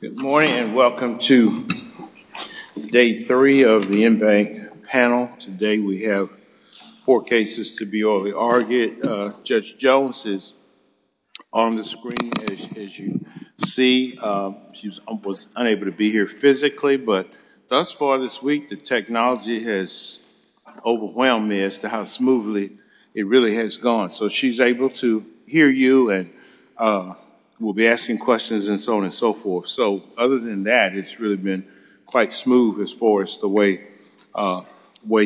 Good morning and welcome to day three of the InBank panel. Today we have four cases to be orally argued. Judge Jones is on the screen as you see. She was unable to be here physically, but thus far this week the technology has overwhelmed me as to how smoothly it really has gone. So she's able to hear you and we'll be taking questions and so on and so forth. So other than that, it's really been quite smooth as far as the way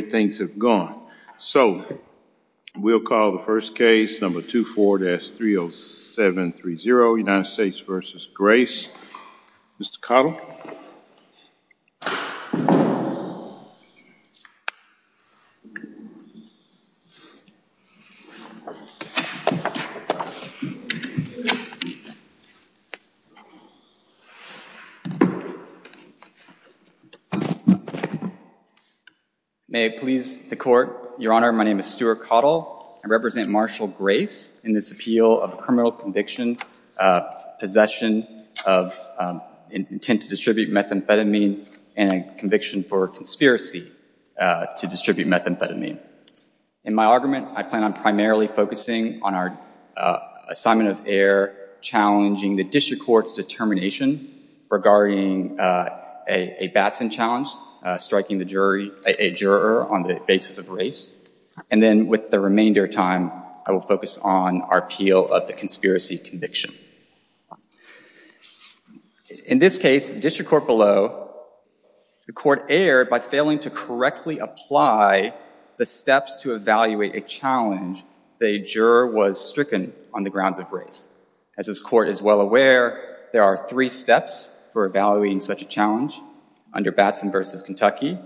things have gone. So we'll call the first case number 204-30730, United States v. Grace. Mr. Cottle. May it please the court. Your Honor, my name is Stuart Cottle. I represent Marshal Grace in this appeal of a criminal conviction, possession of intent to distribute methamphetamine, and a conviction for conspiracy to distribute methamphetamine. In my argument, I plan on primarily focusing on our assignment of error challenging the district court's determination regarding a Batson challenge, striking a juror on the basis of race, and then with the remainder of time, I will focus on our appeal of the conspiracy conviction. In this case, the district court below, the court erred by failing to correctly apply the steps to evaluate a challenge the juror was stricken on the grounds of race. As this court is well aware, there are three steps for evaluating such a challenge under Batson v. Kentucky.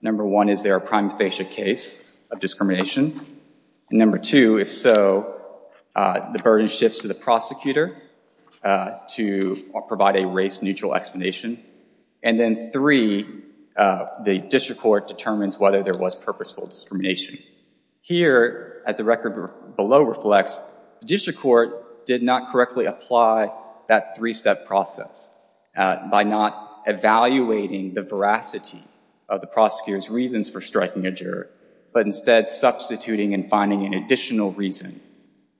Number one, is there a prime facie case of discrimination? Number two, if so, the burden shifts to the prosecutor to provide a race-neutral explanation. And then three, the district court determines whether there was purposeful discrimination. Here, as the record below reflects, the district court did not correctly apply that three-step process by not evaluating the veracity of the prosecutor's reasons for striking a juror, but instead substituting and finding an additional reason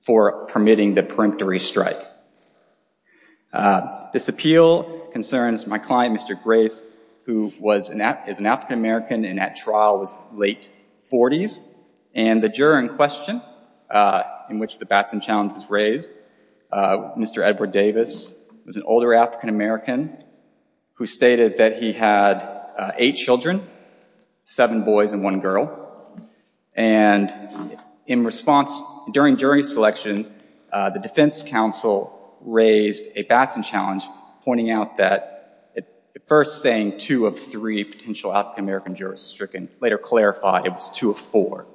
for permitting the peremptory strike. This appeal concerns my client, Mr. Grace, who was an African-American and at trial was late 40s, and the juror in question, in which the Batson challenge was raised, Mr. Edward Davis, was an older African-American who stated that he had eight children, seven boys and one girl, and in response, during jury selection, the defense counsel raised a Batson challenge pointing out that at first saying two of three potential African-American jurors was stricken, later clarified it was two of four.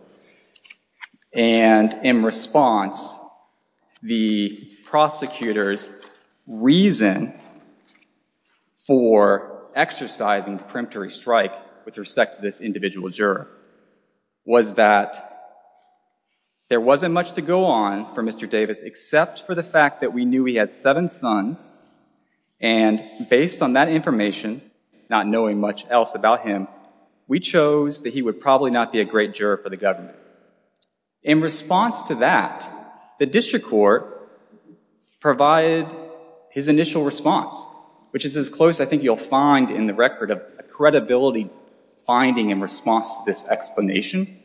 And in response, the prosecutor's reason for exercising the peremptory strike with respect to this individual juror was that there wasn't much to go on for Mr. Davis except for the fact that we knew he had seven sons, and based on that information, not knowing much else about him, we chose that he would probably not be a great juror for the government. In response to that, the district court provided his initial response, which is as close, I think you'll find in the record, of a explanation.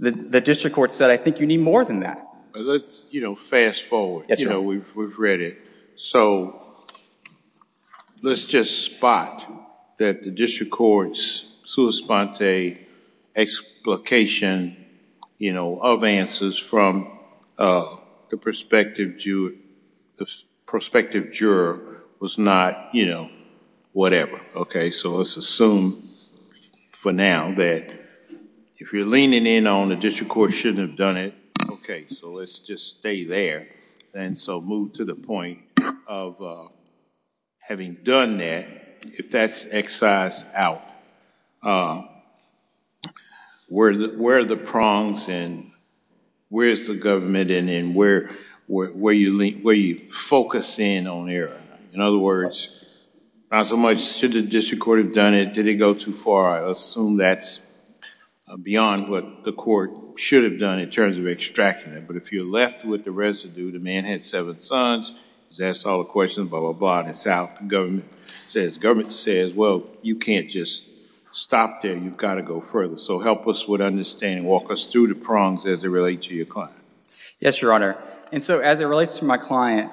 The district court said, I think you need more than that. Let's fast forward. We've read it. So let's just spot that the district court's sua sponte explication of answers from the prospective juror was not whatever. Okay. So let's assume for now that if you're leaning in on the district court shouldn't have done it. Okay. So let's just stay there. And so move to the point of having done that, if that's excised out, where are the prongs and where is the government and where are you focusing on here? In other words, not so much should the district court have done it, did it go too far? I assume that's beyond what the court should have done in terms of extracting it. But if you're left with the residue, the man had seven sons, he's asked all the questions, blah, blah, blah, and it's out. The government says, well, you can't just stop there. You've got to go further. So help us with understanding. Walk us through the prongs as they relate to your client. Yes, Your Honor. And so as it relates to my client,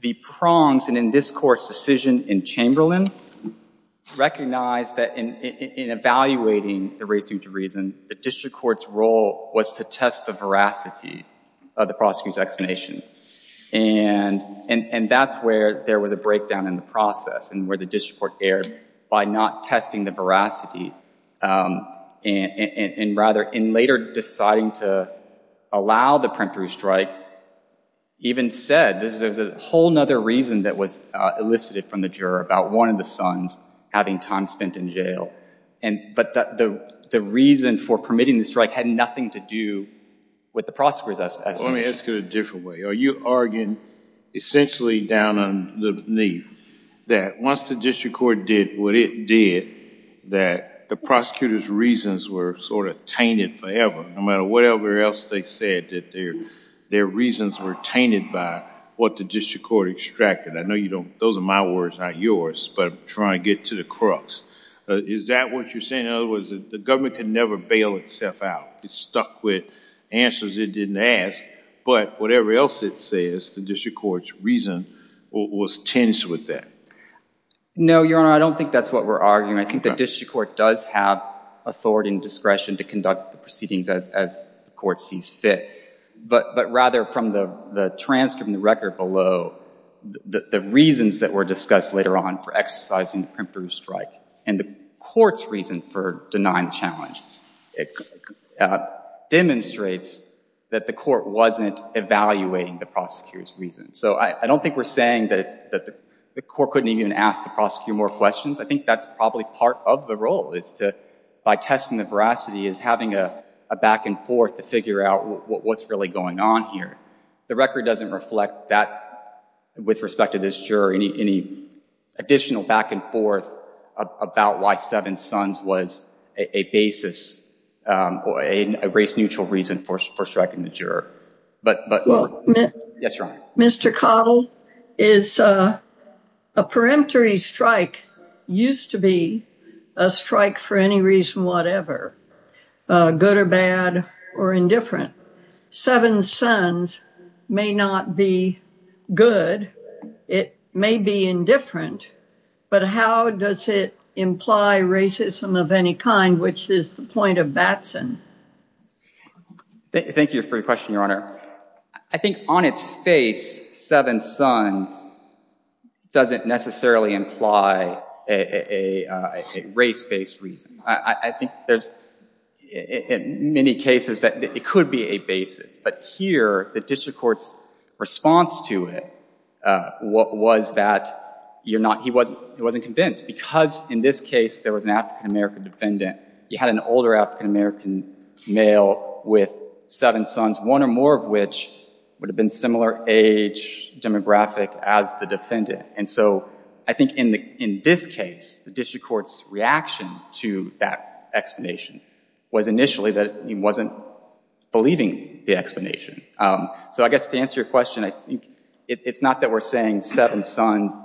the prongs, and in this court's decision in Chamberlain, recognized that in evaluating the residue to reason, the district court's role was to test the veracity of the prosecutor's explanation. And that's where there was a breakdown in the process and where the district court erred by not testing the veracity and rather in later deciding to allow the preemptory strike, even said there's a whole other reason that was elicited from the juror about one of the sons having time spent in jail. But the reason for permitting the strike had nothing to do with the prosecutor's explanation. Let me ask it a different way. Are you arguing essentially down on the knee that once the district court did what it did, that the prosecutor's reasons were sort of tainted forever, no matter whatever else they said, that their reasons were tainted by what the district court extracted? I know those are my words, not yours, but I'm trying to get to the crux. Is that what you're saying? In other words, the government can never bail itself out. It's stuck with answers it didn't ask, but whatever else it says, the district court's reason was tinged with that. No, Your Honor. I don't think that's what we're arguing. I think the district court does have authority and discretion to conduct the proceedings as the court sees fit, but rather from the transcript and the record below, the reasons that were discussed later on for exercising the Primfrew strike and the court's reason for denying the challenge, it demonstrates that the court wasn't evaluating the prosecutor's reasons. So I don't think we're saying that the court couldn't even ask the prosecutor more questions. I think that's probably part of the role is to, by testing the veracity, is having a back-and-forth to figure out what's really going on here. The record doesn't reflect that with respect to this juror, any additional back-and-forth about why Seven Sons was a basis or a race-neutral reason for striking the juror. Yes, Your Honor. Mr. Cottle, a preemptory strike used to be a strike for any reason whatever, good or bad or indifferent. Seven Sons may not be good, it may be indifferent, but how does it imply racism of any kind, which is the point of Batson? Thank you for your question, Your Honor. I think on its face, Seven Sons doesn't necessarily imply a race-based reason. I think there's, in many cases, that it could be a basis. But here, the district court's response to it was that he wasn't convinced because, in this case, there was an African-American defendant. He had an older African-American male with seven sons, one or more of which would have been similar age demographic as the defendant. And so I think in this case, the district court's reaction to that explanation was initially that he wasn't believing the explanation. So I guess to answer your question, I think it's not that we're saying Seven Sons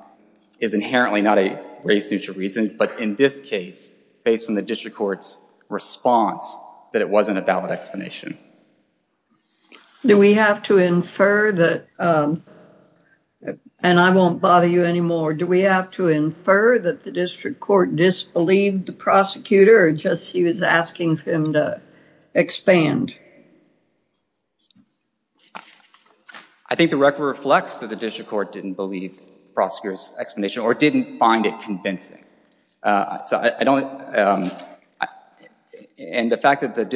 is inherently not a race-neutral reason, but in this case, based on the district court's response, that it wasn't a valid explanation. Do we have to infer that, and I won't bother you anymore, do we have to infer that the district court disbelieved the prosecutor or just he was asking for him to expand? I think the record reflects that the district court didn't believe the prosecutor's explanation or didn't find it convincing. And the fact that the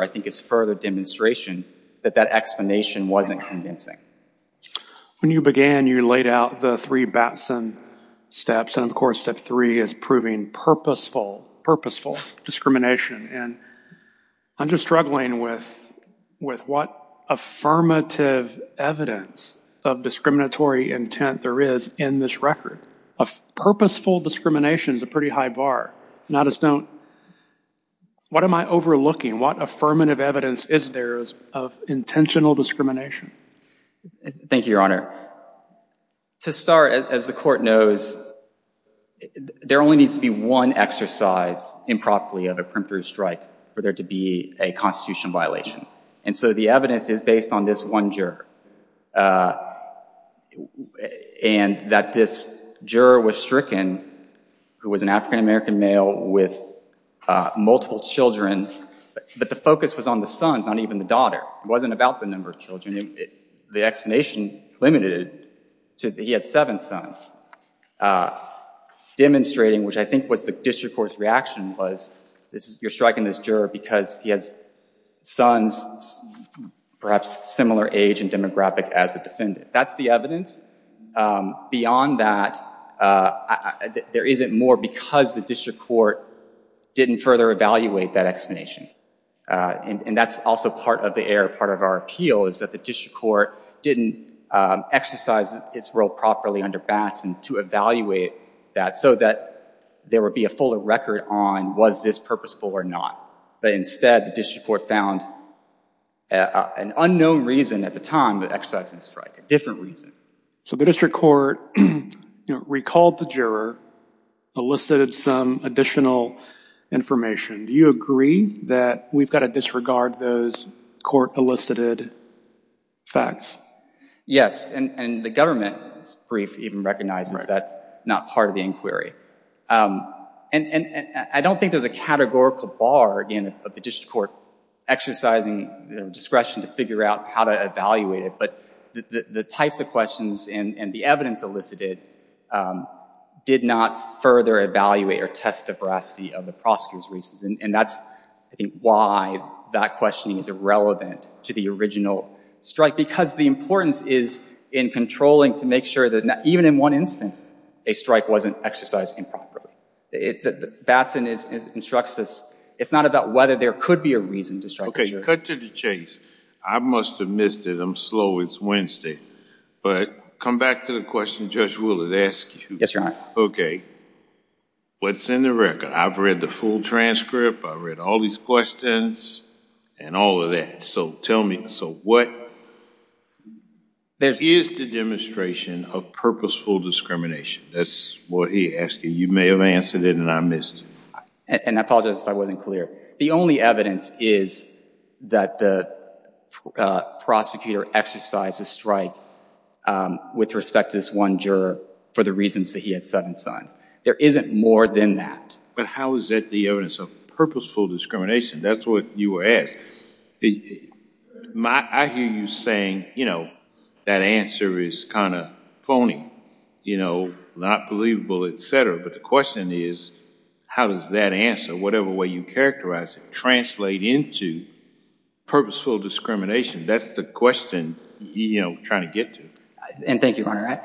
I think it's further demonstration that that explanation wasn't convincing. When you began, you laid out the three Batson steps, and of course, step three is proving purposeful, purposeful discrimination. And I'm just struggling with what affirmative evidence of discriminatory intent there is in this record. Purposeful discrimination is a pretty high bar. And I just don't, what am I overlooking? What affirmative evidence is there of intentional discrimination? Thank you, Your Honor. To start, as the court knows, there only needs to be one exercise improperly of a primitive strike for there to be a constitutional violation. And so the evidence is based on this one juror. And that this juror was stricken, who was an African-American male with multiple children, but the focus was on the sons, not even the daughter. It wasn't about the number of children. The explanation limited to he had seven sons, demonstrating, which I think was the district court's reaction, was you're striking this juror because he has sons perhaps similar age and demographic as the defendant. That's the evidence. Beyond that, there isn't more because the district court didn't further evaluate that explanation. And that's also part of the error, part of our appeal, is that the district court didn't exercise its role properly under Batson to evaluate that so that there would be a fuller record on was this purposeful or not. But instead, the district court found an unknown reason at the time that exercises strike, a different reason. So the district court recalled the juror, elicited some additional information. Do you agree that we've got to disregard those court-elicited facts? Yes, and the government's brief even recognizes that's not part of the inquiry. And I don't think there's a categorical bar, again, of the district court exercising discretion to figure out how to evaluate it. But the types of questions and the evidence elicited did not further evaluate or test the veracity of the prosecutor's reasons. And that's, I think, why that questioning is irrelevant to the original strike, because the importance is in controlling to make sure that even in one instance a strike wasn't exercised improperly. Batson instructs us it's not about whether there could be a reason to strike. Okay, cut to the chase. I must have missed it. I'm slow. It's Wednesday. But come back to the question Judge Woolard asked you. Yes, Your Honor. Okay, what's in the record? I've read the full transcript. I read all these questions and all of that. So tell me, so what is the demonstration of purposeful discrimination? That's what he asked you. You may have answered it and I missed it. And I apologize if I wasn't clear. The only evidence is that the prosecutor exercised a strike with respect to this one juror for the reasons that he had seven signs. There isn't more than that. But how is that the evidence of purposeful discrimination? That's what you were asking. I hear you saying, you know, that answer is kind of phony, you know, not believable, et cetera. But the question is, how does that answer, whatever way you characterize it, translate into purposeful discrimination? That's the question, you know, we're trying to get to. And thank you, Your Honor.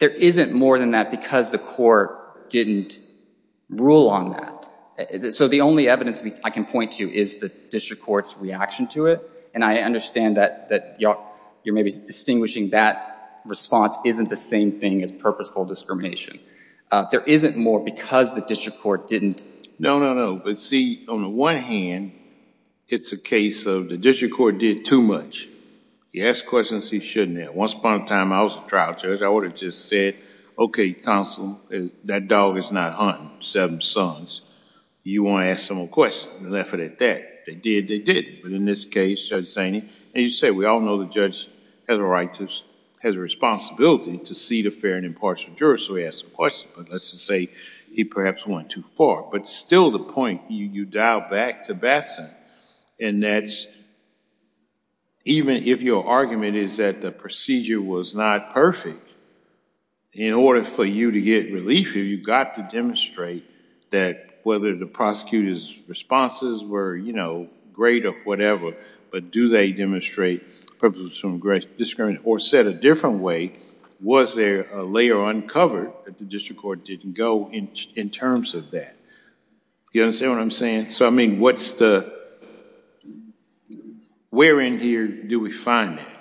There isn't more than that because the court didn't rule on that. So the only evidence I can to is the district court's reaction to it. And I understand that you're maybe distinguishing that response isn't the same thing as purposeful discrimination. There isn't more because the district court didn't. No, no, no. But see, on the one hand, it's a case of the district court did too much. He asked questions he shouldn't have. Once upon a time, I was a trial judge, I would have just said, okay, counsel, that dog is not hunting seven sons. You want to ask someone a question and left it at that. They did, they did. But in this case, Judge Saini, and you said we all know the judge has a right to, has a responsibility to see the fair and impartial juror, so he asked a question. But let's just say he perhaps went too far. But still the point, you dial back to Batson and that's even if your argument is that the procedure was not perfect, in order for you to get relief, you've got to demonstrate that whether the prosecutor's responses were great or whatever, but do they demonstrate purposeful discrimination or said a different way, was there a layer uncovered that the district court didn't go in terms of that? You understand what I'm saying? So, I mean, what's the, where in here do we find that?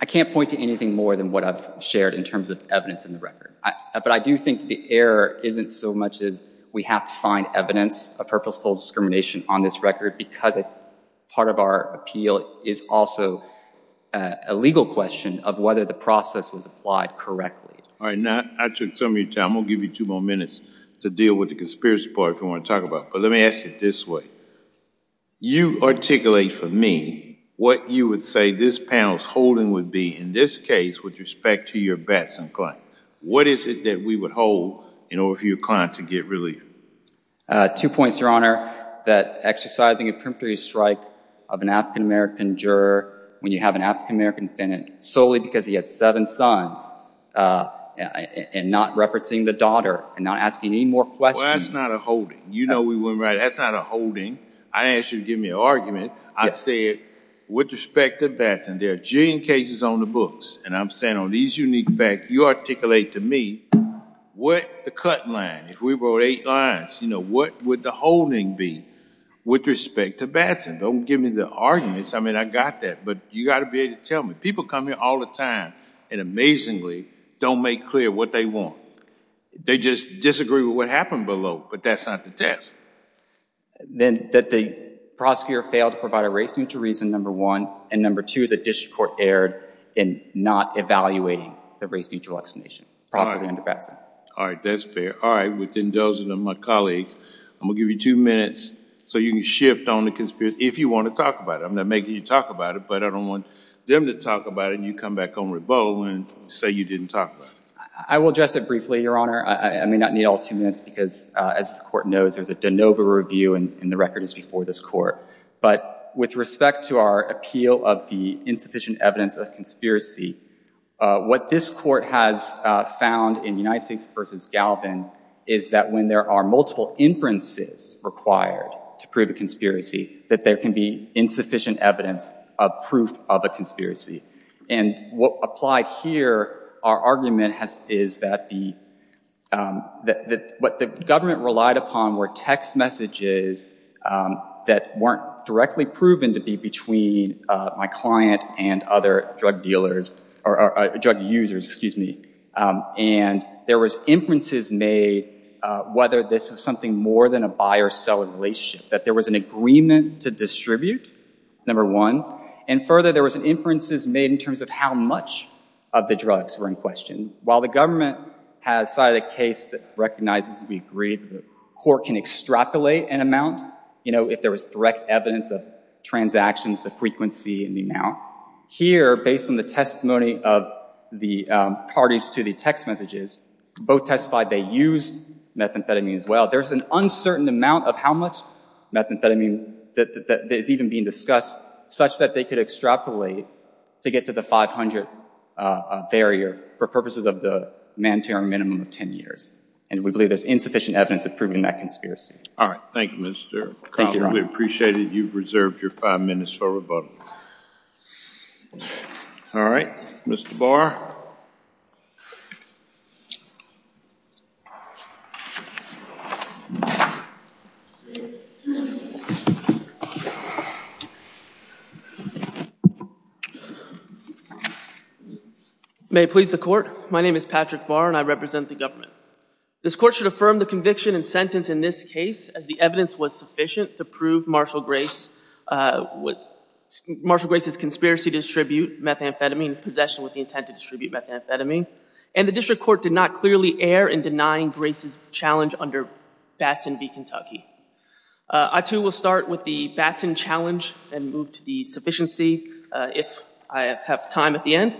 I can't point to anything more than what I've shared in terms of evidence in the record, but I do think the error isn't so much as we have to find evidence of purposeful discrimination on this record because part of our appeal is also a legal question of whether the process was correctly. All right, now I took some of your time. I'm going to give you two more minutes to deal with the conspiracy part if you want to talk about it, but let me ask it this way. You articulate for me what you would say this panel's holding would be in this case with respect to your Batson client. What is it that we would hold in order for your client to get relief? Two points, Your Honor. That exercising a preemptory strike of an African-American juror when you have an African-American defendant solely because he had seven sons and not referencing the daughter and not asking any more questions. Well, that's not a holding. You know we weren't right. That's not a holding. I didn't ask you to give me an argument. I said with respect to Batson, there are a jillion cases on the books, and I'm saying on these unique facts, you articulate to me what the cut line, if we wrote eight lines, you know, what would the holding be with respect to Batson? Don't give me the arguments. I mean, I got that, but you got to be able to tell me. People come here all the time and amazingly don't make clear what they want. They just disagree with what happened below, but that's not the test. Then that the prosecutor failed to provide a race-neutral reason, number one, and number two, the district court erred in not evaluating the race-neutral explanation properly under Batson. All right. That's fair. All right. Within those of them, my colleagues, I'm going to give you two minutes so you can shift on the conspiracy if you want to talk about it. I'm not making you talk about it, but I don't want them to talk about it, and you come back on rebuttal and say you didn't talk about it. I will address it briefly, Your Honor. I may not need all two minutes because, as the Court knows, there's a de novo review, and the record is before this Court. But with respect to our appeal of the insufficient evidence of conspiracy, what this Court has found in United States v. Galvin is that when there are multiple inferences required to prove a conspiracy, that there can be insufficient evidence of proof of a conspiracy. And what applied here, our argument is that what the government relied upon were text messages that weren't directly proven to be between my client and other drug dealers or drug users, and there was inferences made whether this was something more than a buyer-seller relationship, that there was an agreement to distribute, number one, and further, there was an inferences made in terms of how much of the drugs were in question. While the government has cited a case that recognizes we agree that the Court can extrapolate an amount, you know, if there was direct evidence of transactions, the frequency, and the amount, here, based on the testimony of the parties to the text messages, both testified they used methamphetamine as well. There's an uncertain amount of how much methamphetamine that is even being discussed, such that they could extrapolate to get to the 500 barrier for purposes of the mandatory minimum of 10 years, and we believe there's insufficient evidence of proving that conspiracy. All right. Thank you, Mr. Cobb. We appreciate it. You've reserved your five minutes for rebuttal. All right. Mr. Barr. May it please the Court. My name is Patrick Barr, and I represent the government. This Court should affirm the conviction and sentence in this case as the evidence was sufficient to prove Marshall Grace's conspiracy to distribute methamphetamine, possession with the intent to distribute methamphetamine, and the District Court did not clearly err in denying Grace's challenge under Batson v. Kentucky. I, too, will start with the Batson challenge and move to the sufficiency if I have time at the end.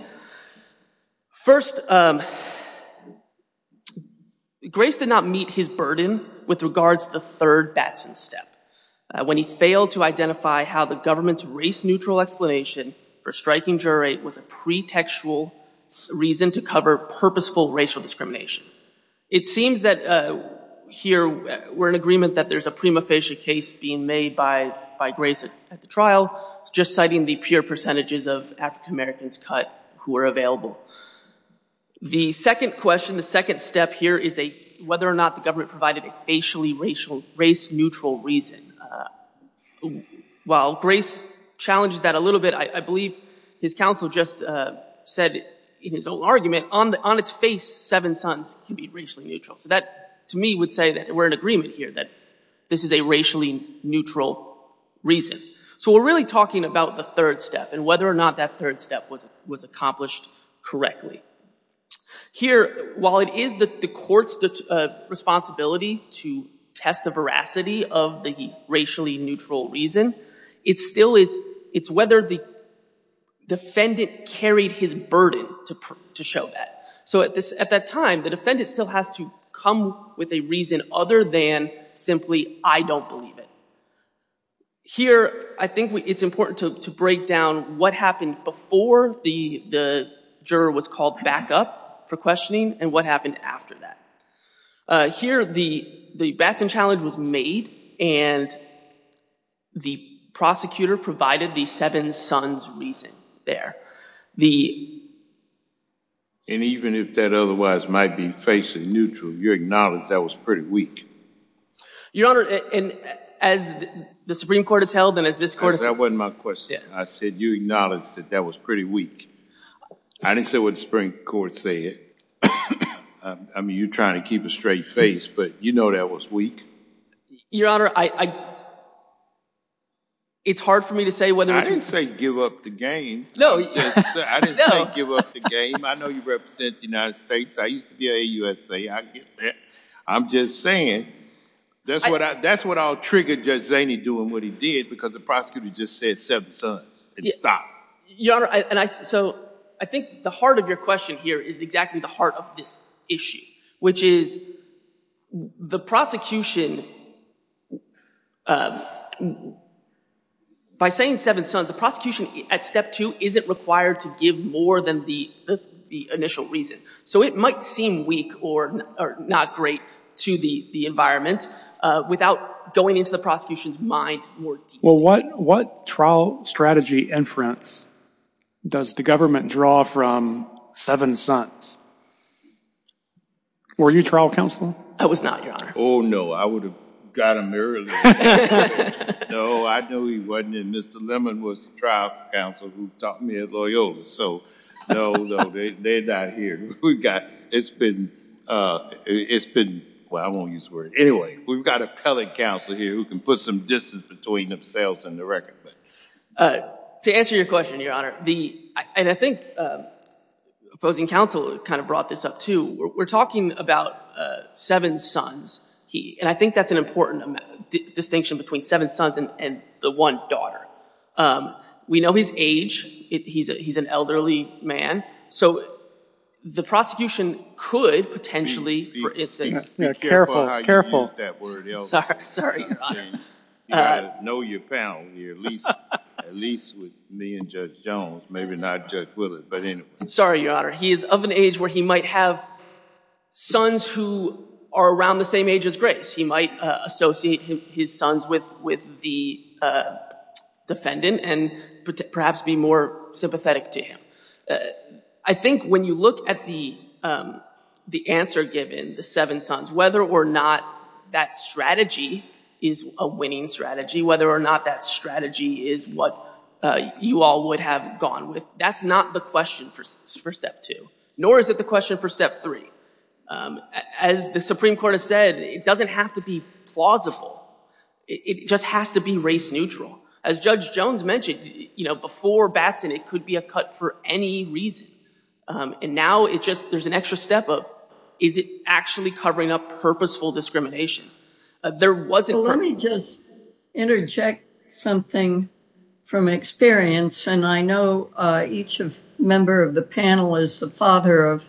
First, Grace did not meet his burden with regards to the third Batson step when he failed to identify how the government's race-neutral explanation for striking jury was a pretextual reason to cover purposeful racial discrimination. It seems that here we're in agreement that there's a prima facie case being made by Grace at the trial, just citing the pure percentages of African-Americans cut who are available. The second question, the second step here is whether or not the government provided a facially race-neutral reason. While Grace challenges that a little bit, I believe his counsel just said in his own argument, on its face, seven sons can be racially neutral. So that to me would say that we're in agreement here that this is a racially neutral reason. So we're really talking about the third step and whether or not that third step was accomplished correctly. Here, while it is the court's responsibility to test the veracity of the racially neutral reason, it's whether the defendant carried his burden to show that. So at that time, the defendant still has to come with a reason other than simply, I don't believe it. Here, I think it's important to break down what happened before the juror was called back up for questioning and what happened after that. Here, the Batson challenge was made and the prosecutor provided the seven sons reason there. And even if that otherwise might be facially neutral, you acknowledge that was pretty weak. Your Honor, as the Supreme Court has held and as this court has held... That wasn't my question. I said you acknowledged that that was pretty weak. I didn't say what the Supreme Court said. I mean, you're trying to keep a straight face, but you know that was weak. Your Honor, it's hard for me to say whether... I didn't say give up the game. No. I didn't say give up the game. I know you represent the United States. I used to be USA. I get that. I'm just saying that's what all triggered Judge Zaney doing what he did because the prosecutor just said seven sons and stopped. Your Honor, so I think the heart of your question here is exactly the heart of this issue, which is the prosecution... By saying seven sons, the prosecution at step two isn't required to give more than the initial reason. So it might seem weak or not great to the environment without going into the prosecution's mind more. Well, what trial strategy inference does the government draw from seven sons? Were you trial counsel? I was not, Your Honor. Oh, no. I would have got him early. No, I know he wasn't. And Mr. Lemon was the trial counsel who taught me at Loyola. So no, no, they're not here. It's been... Well, I won't use the word. Anyway, we've got appellate counsel here who can put some distance between themselves and the record. To answer your question, Your Honor, and I think opposing counsel kind of brought this up too. We're talking about seven sons. And I think that's an important distinction between seven sons and the one daughter. We know his age. He's an elderly man. So the prosecution could potentially... Be careful how you use that word. Sorry, Your Honor. You've got to know your panel here, at least with me and Judge Jones, maybe not Judge Willard. But anyway. Sorry, Your Honor. He is of an age where he might have sons who are around the same age as Grace. He might associate his sons with the defendant and perhaps be more sympathetic to him. I think when you look at the answer given, the seven sons, whether or not that strategy is a winning strategy, whether or not that strategy is what you all would have gone with, that's not the question for step two, nor is it the question for step three. As the Supreme Court has said, it doesn't have to be plausible. It just has to be race-neutral. As Judge Jones mentioned, before Batson, it could be a cut for any reason. And now it just... There's an extra step of, is it actually covering up purposeful discrimination? Let me just interject something from experience. And I know each member of the panel is the father of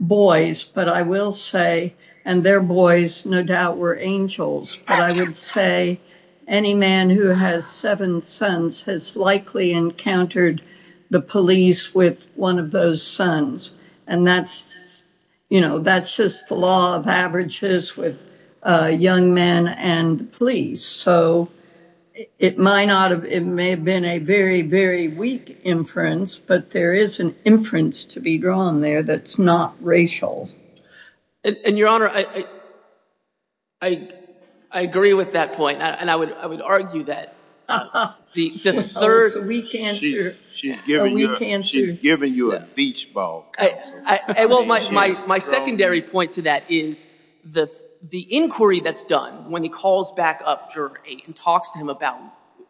boys, but I will say, and their boys no doubt were angels, but I would say any man who has seven sons has likely encountered the police with one of those sons. And that's just the law of averages with young men and police. So, it may have been a very, very weak inference, but there is an inference to be drawn there that's not racial. And Your Honor, I agree with that point. And I would argue that the third weak answer... She's giving you a beach ball. I will... My secondary point to that is the inquiry that's done when he calls back up and talks to him about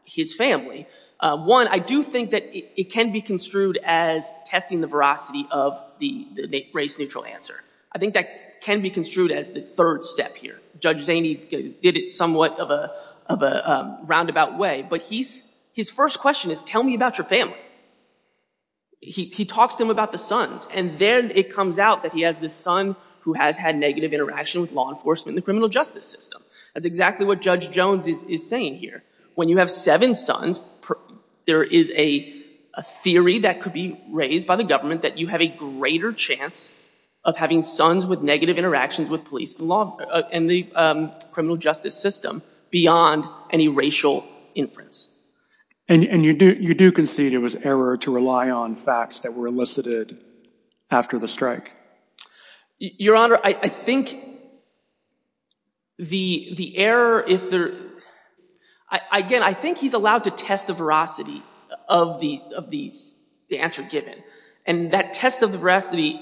his family. One, I do think that it can be construed as testing the veracity of the race-neutral answer. I think that can be construed as the third step here. Judge Zaney did it somewhat of a roundabout way, but his first question is, tell me about your family. He talks to him about the sons, and then it comes out that he has this son who has had negative interaction with law enforcement and the criminal justice system. That's exactly what Judge Jones is saying here. When you have seven sons, there is a theory that could be raised by the government that you have a greater chance of having sons with negative interactions with police and law and the criminal justice system beyond any racial inference. And you do concede it was error to rely on facts that were elicited after the strike? Your Honor, I think the error, if there... Again, I think he's allowed to test the veracity of the answer given. And that test of the veracity,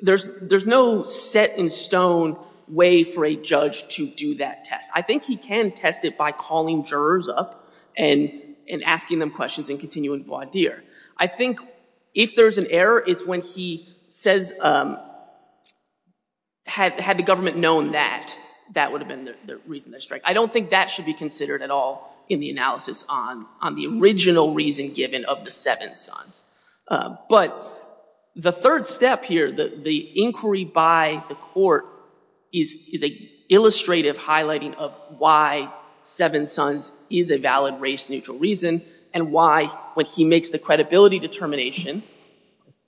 there's no set in stone way for a judge to do that test. I think he can test it by calling jurors up and asking them questions and continuing voir dire. I think if there's an error, it's when he says, had the government known that, that would have been the reason for the strike. I don't think that should be considered at all in the analysis on the original reason given of the seven sons. But the third step here, the inquiry by the court, is an illustrative highlighting of why seven sons is a valid race-neutral reason and why, when he makes the credibility determination,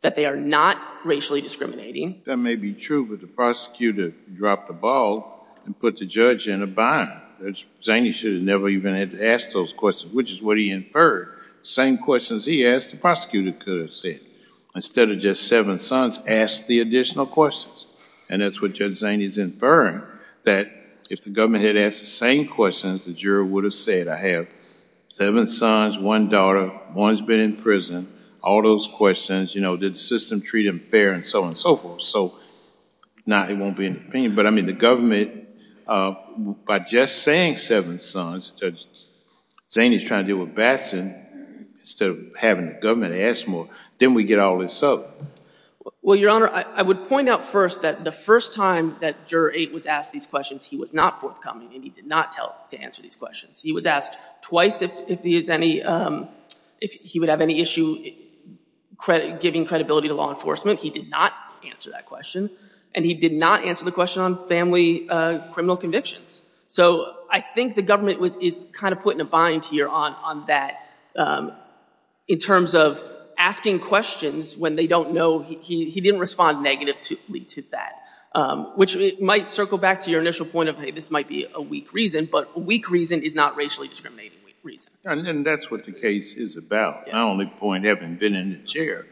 that they are not racially discriminating. That may be true, but the prosecutor dropped the ball and put the judge in a bind. Zaney should have never even had to ask those questions, which is what he inferred. Same questions he asked, the prosecutor could have said. Instead of just seven sons, ask the additional questions. And that's what Judge Zaney's inferring, that if the government had asked the same questions, the juror would have said, I have seven sons, one daughter, one's been in prison, all those questions, you know, did the system treat them fair, and so on and so forth. So not, it won't be an opinion. But I mean, the government, by just saying seven sons, Zaney's trying to deal with Batson instead of having the government ask more. Then we get all this up. Well, Your Honor, I would point out first that the first time that Juror 8 was asked these questions, he was not forthcoming, and he did not tell to answer these questions. He was asked twice if he would have any issue giving credibility to law enforcement. He did not answer that question, and he did not answer the question on family criminal convictions. So I think the government is kind of put in a bind here on that, in terms of asking questions when they don't know, he didn't respond negatively to that, which might circle back to your initial point of, hey, this might be a weak reason, but a weak reason is not racially discriminating. And that's what the case is about. My only point, having been in the chair,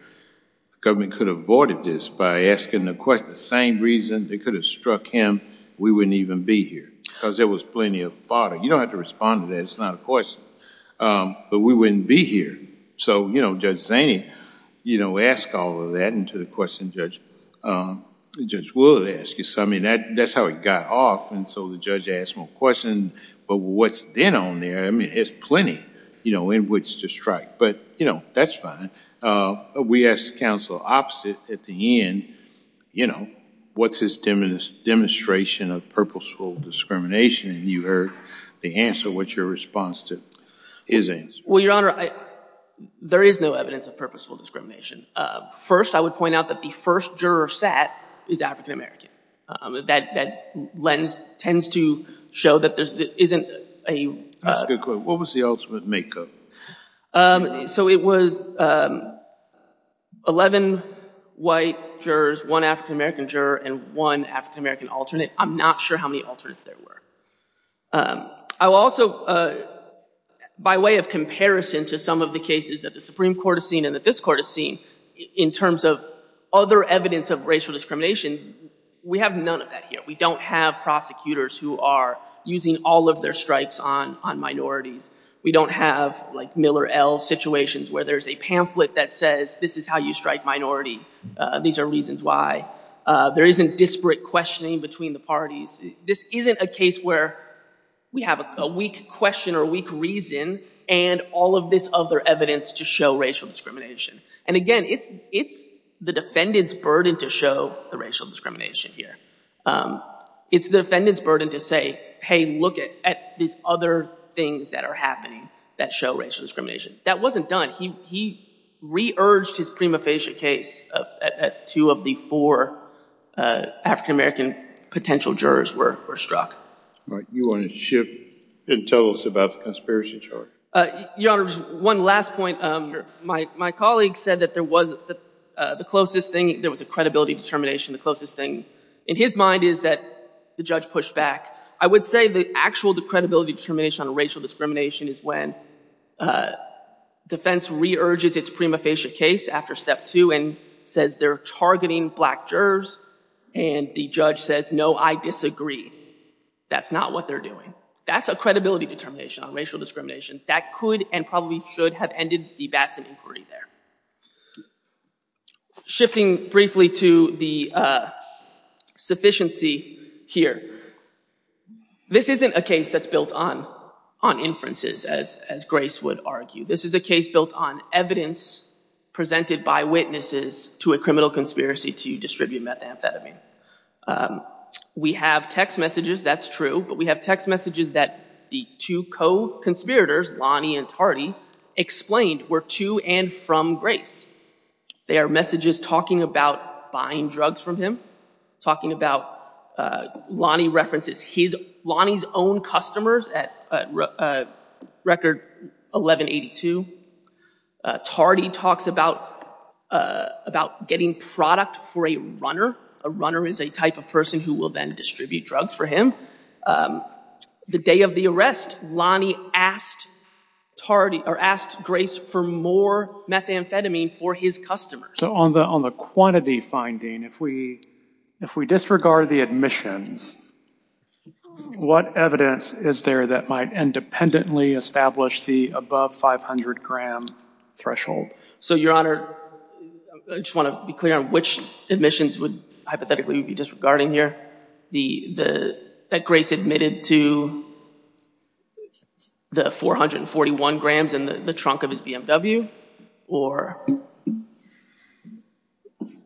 the government could have avoided this by asking the question, the same reason, they could have struck him, we wouldn't even be here, because there was plenty of fodder. You don't have to respond to that. It's not a question. But we wouldn't be here. So, you know, Judge Zaney, you know, asked all of that, and to the question Judge Wood asked, I mean, that's how it got off, and so the judge asked more questions, but what's then on there, I mean, there's plenty, you know, in which to strike, but, you know, that's fine. We asked counsel opposite at the end, you know, what's his demonstration of purposeful discrimination, and you heard the answer, what's your response to his answer? Well, Your Honor, there is no evidence of purposeful discrimination. First, I would point out that the first juror sat is African-American. That lens tends to show that there isn't a... That's a good point. What was the ultimate makeup? So it was 11 white jurors, one African-American juror, and one African-American alternate. I'm not sure how many alternates there were. I will also, by way of comparison to some of the cases that the Supreme Court has seen and that this Court has seen, in terms of other evidence of discrimination, we have none of that here. We don't have prosecutors who are using all of their strikes on minorities. We don't have, like, Miller L. situations where there's a pamphlet that says this is how you strike minority. These are reasons why. There isn't disparate questioning between the parties. This isn't a case where we have a weak question or a weak reason and all of this other evidence to show racial discrimination. And again, it's the defendant's burden to show the racial discrimination here. It's the defendant's burden to say, hey, look at these other things that are happening that show racial discrimination. That wasn't done. He re-urged his prima facie case at two of the four African-American potential jurors were struck. All right. You want to shift and tell us about the conspiracy charge? Your Honor, one last point. My colleague said that there was the closest thing. There was a credibility determination. The closest thing in his mind is that the judge pushed back. I would say the actual credibility determination on racial discrimination is when defense re-urges its prima facie case after step two and says they're targeting black jurors and the judge says, no, I disagree. That's not what they're doing. That's a credibility determination on racial discrimination that could and probably should have ended the bats in inquiry there. Shifting briefly to the sufficiency here. This isn't a case that's built on inferences as Grace would argue. This is a case built on evidence presented by witnesses to a criminal conspiracy to distribute methamphetamine. We have text messages, that's true, but we have text messages that the two co-conspirators, Lonnie and Tardy, explained were to and from Grace. They are messages talking about buying drugs from him, talking about Lonnie references his, Lonnie's own customers at record 1182. Tardy talks about getting product for a runner. A runner is a type of person who will then distribute drugs for him. The day of the arrest, Lonnie asked Grace for more methamphetamine for his customers. So on the quantity finding, if we disregard the admissions, what evidence is there that might independently establish the above 500 gram threshold? So, Your Honor, I just want to be clear on which admissions would hypothetically be disregarding here. That Grace admitted to the 441 grams in the trunk of his BMW, or?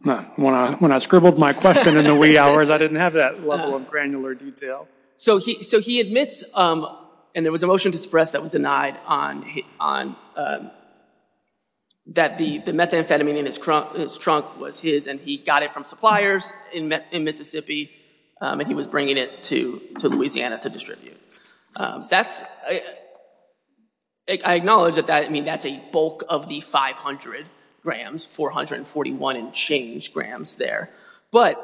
When I scribbled my question in the wee hours, I didn't have that level of granular detail. So he admits, and there was a motion to suppress that was denied, on that the methamphetamine in his trunk was his, and he got it from suppliers in Mississippi, and he was bringing it to Louisiana to distribute. That's, I acknowledge that that, I mean, that's a bulk of the 500 grams, 441 and change grams there. But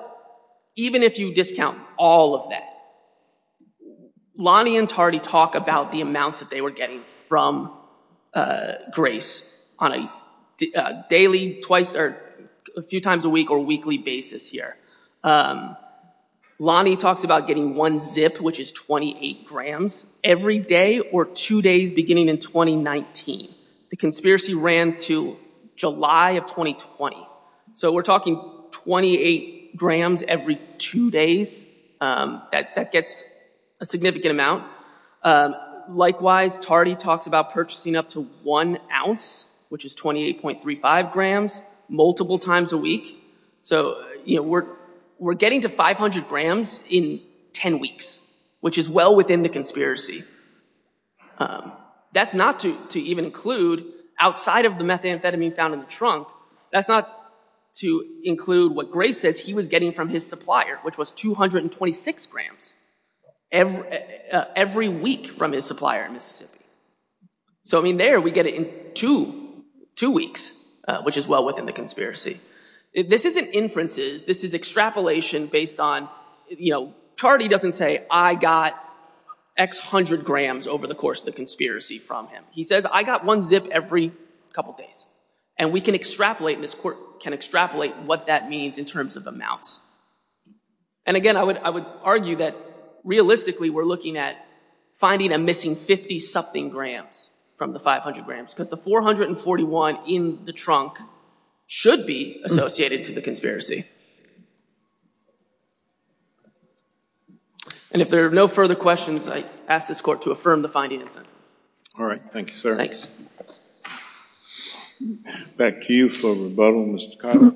even if you discount all of that, Lonnie and Tardy talk about the amounts that they were getting from Grace on a daily, twice or a few times a week or weekly basis here. Lonnie talks about getting one zip, which is 28 grams every day or two days beginning in 2019. The conspiracy ran to July of 2020. So we're talking 28 grams every two days, that gets a significant amount. Likewise, Tardy talks about purchasing up to one ounce, which is 28.35 grams, multiple times a week. So, you know, we're getting to 500 grams in 10 weeks, which is well within the conspiracy. That's not to even include outside of the methamphetamine found in the trunk. That's not to include what Grace says he was getting from his supplier, which was 226 grams every week from his supplier in Mississippi. So, I mean, there we get it in two weeks, which is well within the conspiracy. This isn't inferences. This is extrapolation based on, you know, Tardy doesn't say I got X hundred grams over the course of the conspiracy from him. He says, I got one zip every couple of days. And we can extrapolate, and this court can extrapolate what that means in terms of amounts. And again, I would argue that realistically, we're looking at finding a missing 50-something grams from the 500 grams because the 441 in the trunk should be associated to the conspiracy. And if there are no further questions, I ask this court to affirm the finding and sentence. All right. Thank you, sir. Back to you for rebuttal, Mr. Conner.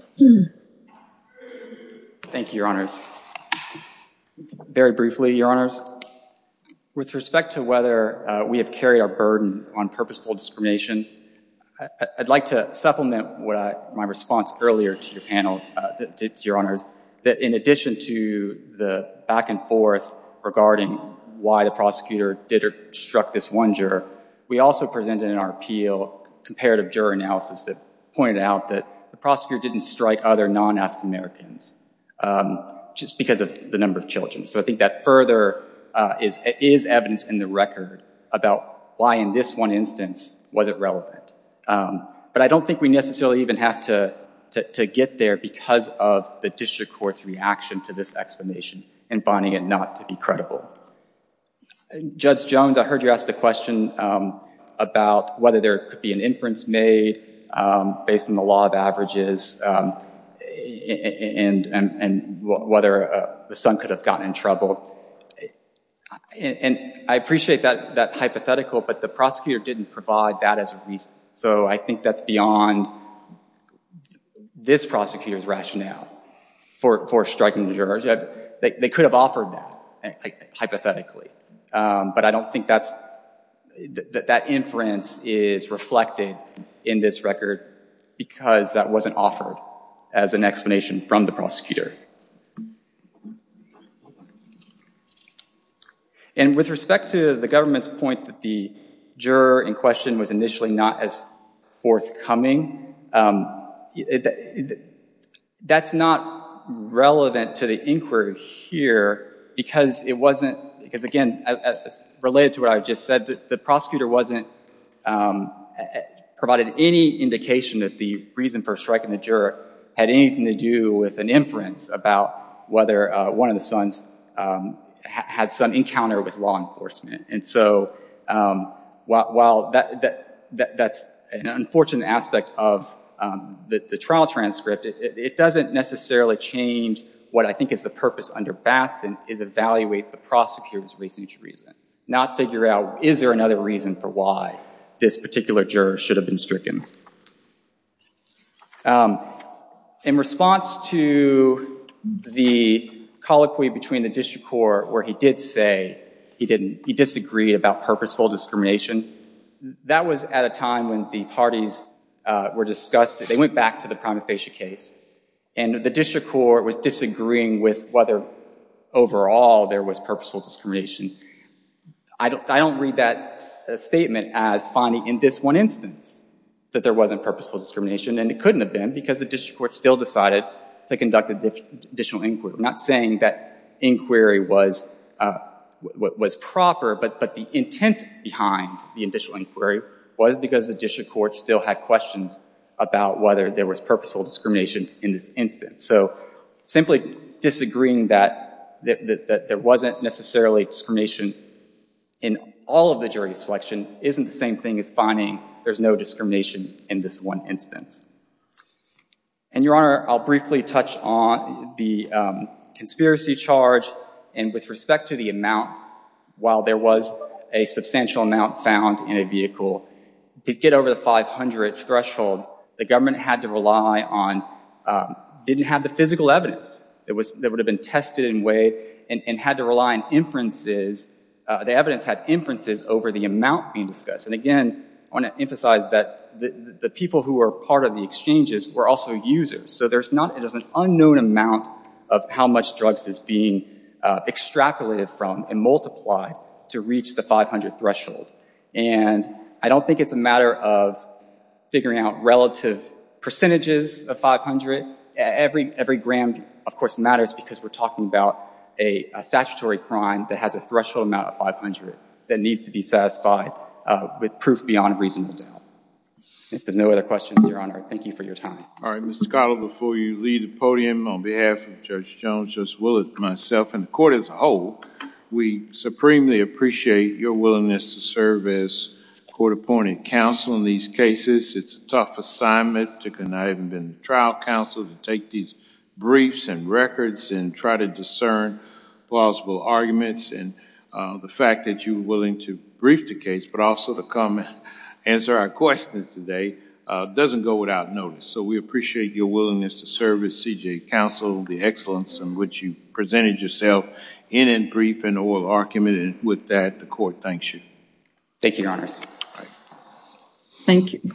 Thank you, Your Honors. Very briefly, Your Honors, with respect to whether we have carried our burden on purposeful discrimination, I'd like to supplement what my response earlier to your that in addition to the back and forth regarding why the prosecutor struck this one juror, we also presented in our appeal comparative juror analysis that pointed out that the prosecutor didn't strike other non-African Americans just because of the number of children. So I think that further is evidence in the record about why in this one instance was it relevant. But I don't think we necessarily even have to get there because of the district court's reaction to this explanation and finding it not to be credible. Judge Jones, I heard you ask the question about whether there could be an inference made based on the law of averages and whether the son could have gotten in trouble. And I appreciate that hypothetical, but the prosecutor didn't provide that as a reason. So I think that's beyond this prosecutor's rationale for striking the juror. They could have offered that hypothetically, but I don't think that's that inference is reflected in this record because that wasn't offered as an explanation from the prosecutor. And with respect to the government's point that the juror in question was initially not as forthcoming, that's not relevant to the inquiry here because it wasn't, because again, related to what I just said, the prosecutor wasn't, provided any indication that the reason for striking the juror had anything to do with an inference about whether one of the sons had some encounter with law enforcement. And so while that's an unfortunate aspect of the trial transcript, it doesn't necessarily change what I think is the purpose under Batson is evaluate the prosecutor's reasoning to reason, not figure out is there another reason for why this particular juror should have been stricken. In response to the colloquy between the district court where he did say he disagreed about purposeful discrimination, that was at a time when the parties were discussing, they went back to the prima facie case, and the district court was disagreeing with whether overall there was purposeful discrimination. I don't read that statement as finding in this one instance that there wasn't purposeful discrimination, and it couldn't have been because the district court still decided to conduct an additional inquiry. I'm not saying that inquiry was proper, but the intent behind the additional inquiry was because the district court still had questions about whether there was purposeful discrimination in this instance. So simply disagreeing that there wasn't necessarily discrimination in all of the jury selection isn't the same thing as finding there's no discrimination in this one instance. And, Your Honor, I'll briefly touch on the conspiracy charge and with respect to the amount, while there was a substantial amount found in a vehicle, to get over the 500 threshold, the government had to rely on, didn't have the physical evidence that would have been tested in a way and had to rely on inferences. The evidence had inferences over the amount being discussed. And again, I want to emphasize that the people who were part of the exchanges were also users. So there's not, it is an unknown amount of how much drugs is being extrapolated from and multiplied to reach the 500 threshold. And I don't think it's a matter of figuring out relative percentages of 500. Every gram, of course, matters because we're talking about a statutory crime that has a threshold amount of 500 that needs to be satisfied with proof beyond a reasonable doubt. If there's no other questions, Your Honor, thank you for your time. All right, Mr. Cottle, before you leave the podium, on behalf of Judge Jones, Judge Willett, myself, and the court as a whole, we supremely appreciate your willingness to serve as court appointed counsel in these cases. It's a tough assignment to, and I haven't been the trial counsel, to take these briefs and records and try to discern plausible arguments. And the fact that you were willing to brief the case, but also to come and answer our questions today, doesn't go without notice. So we appreciate your willingness to serve as CJA counsel, the excellence in which you presented yourself in and brief and oral argument. And with that, the court thanks you. Thank you, Your Honors. Thank you.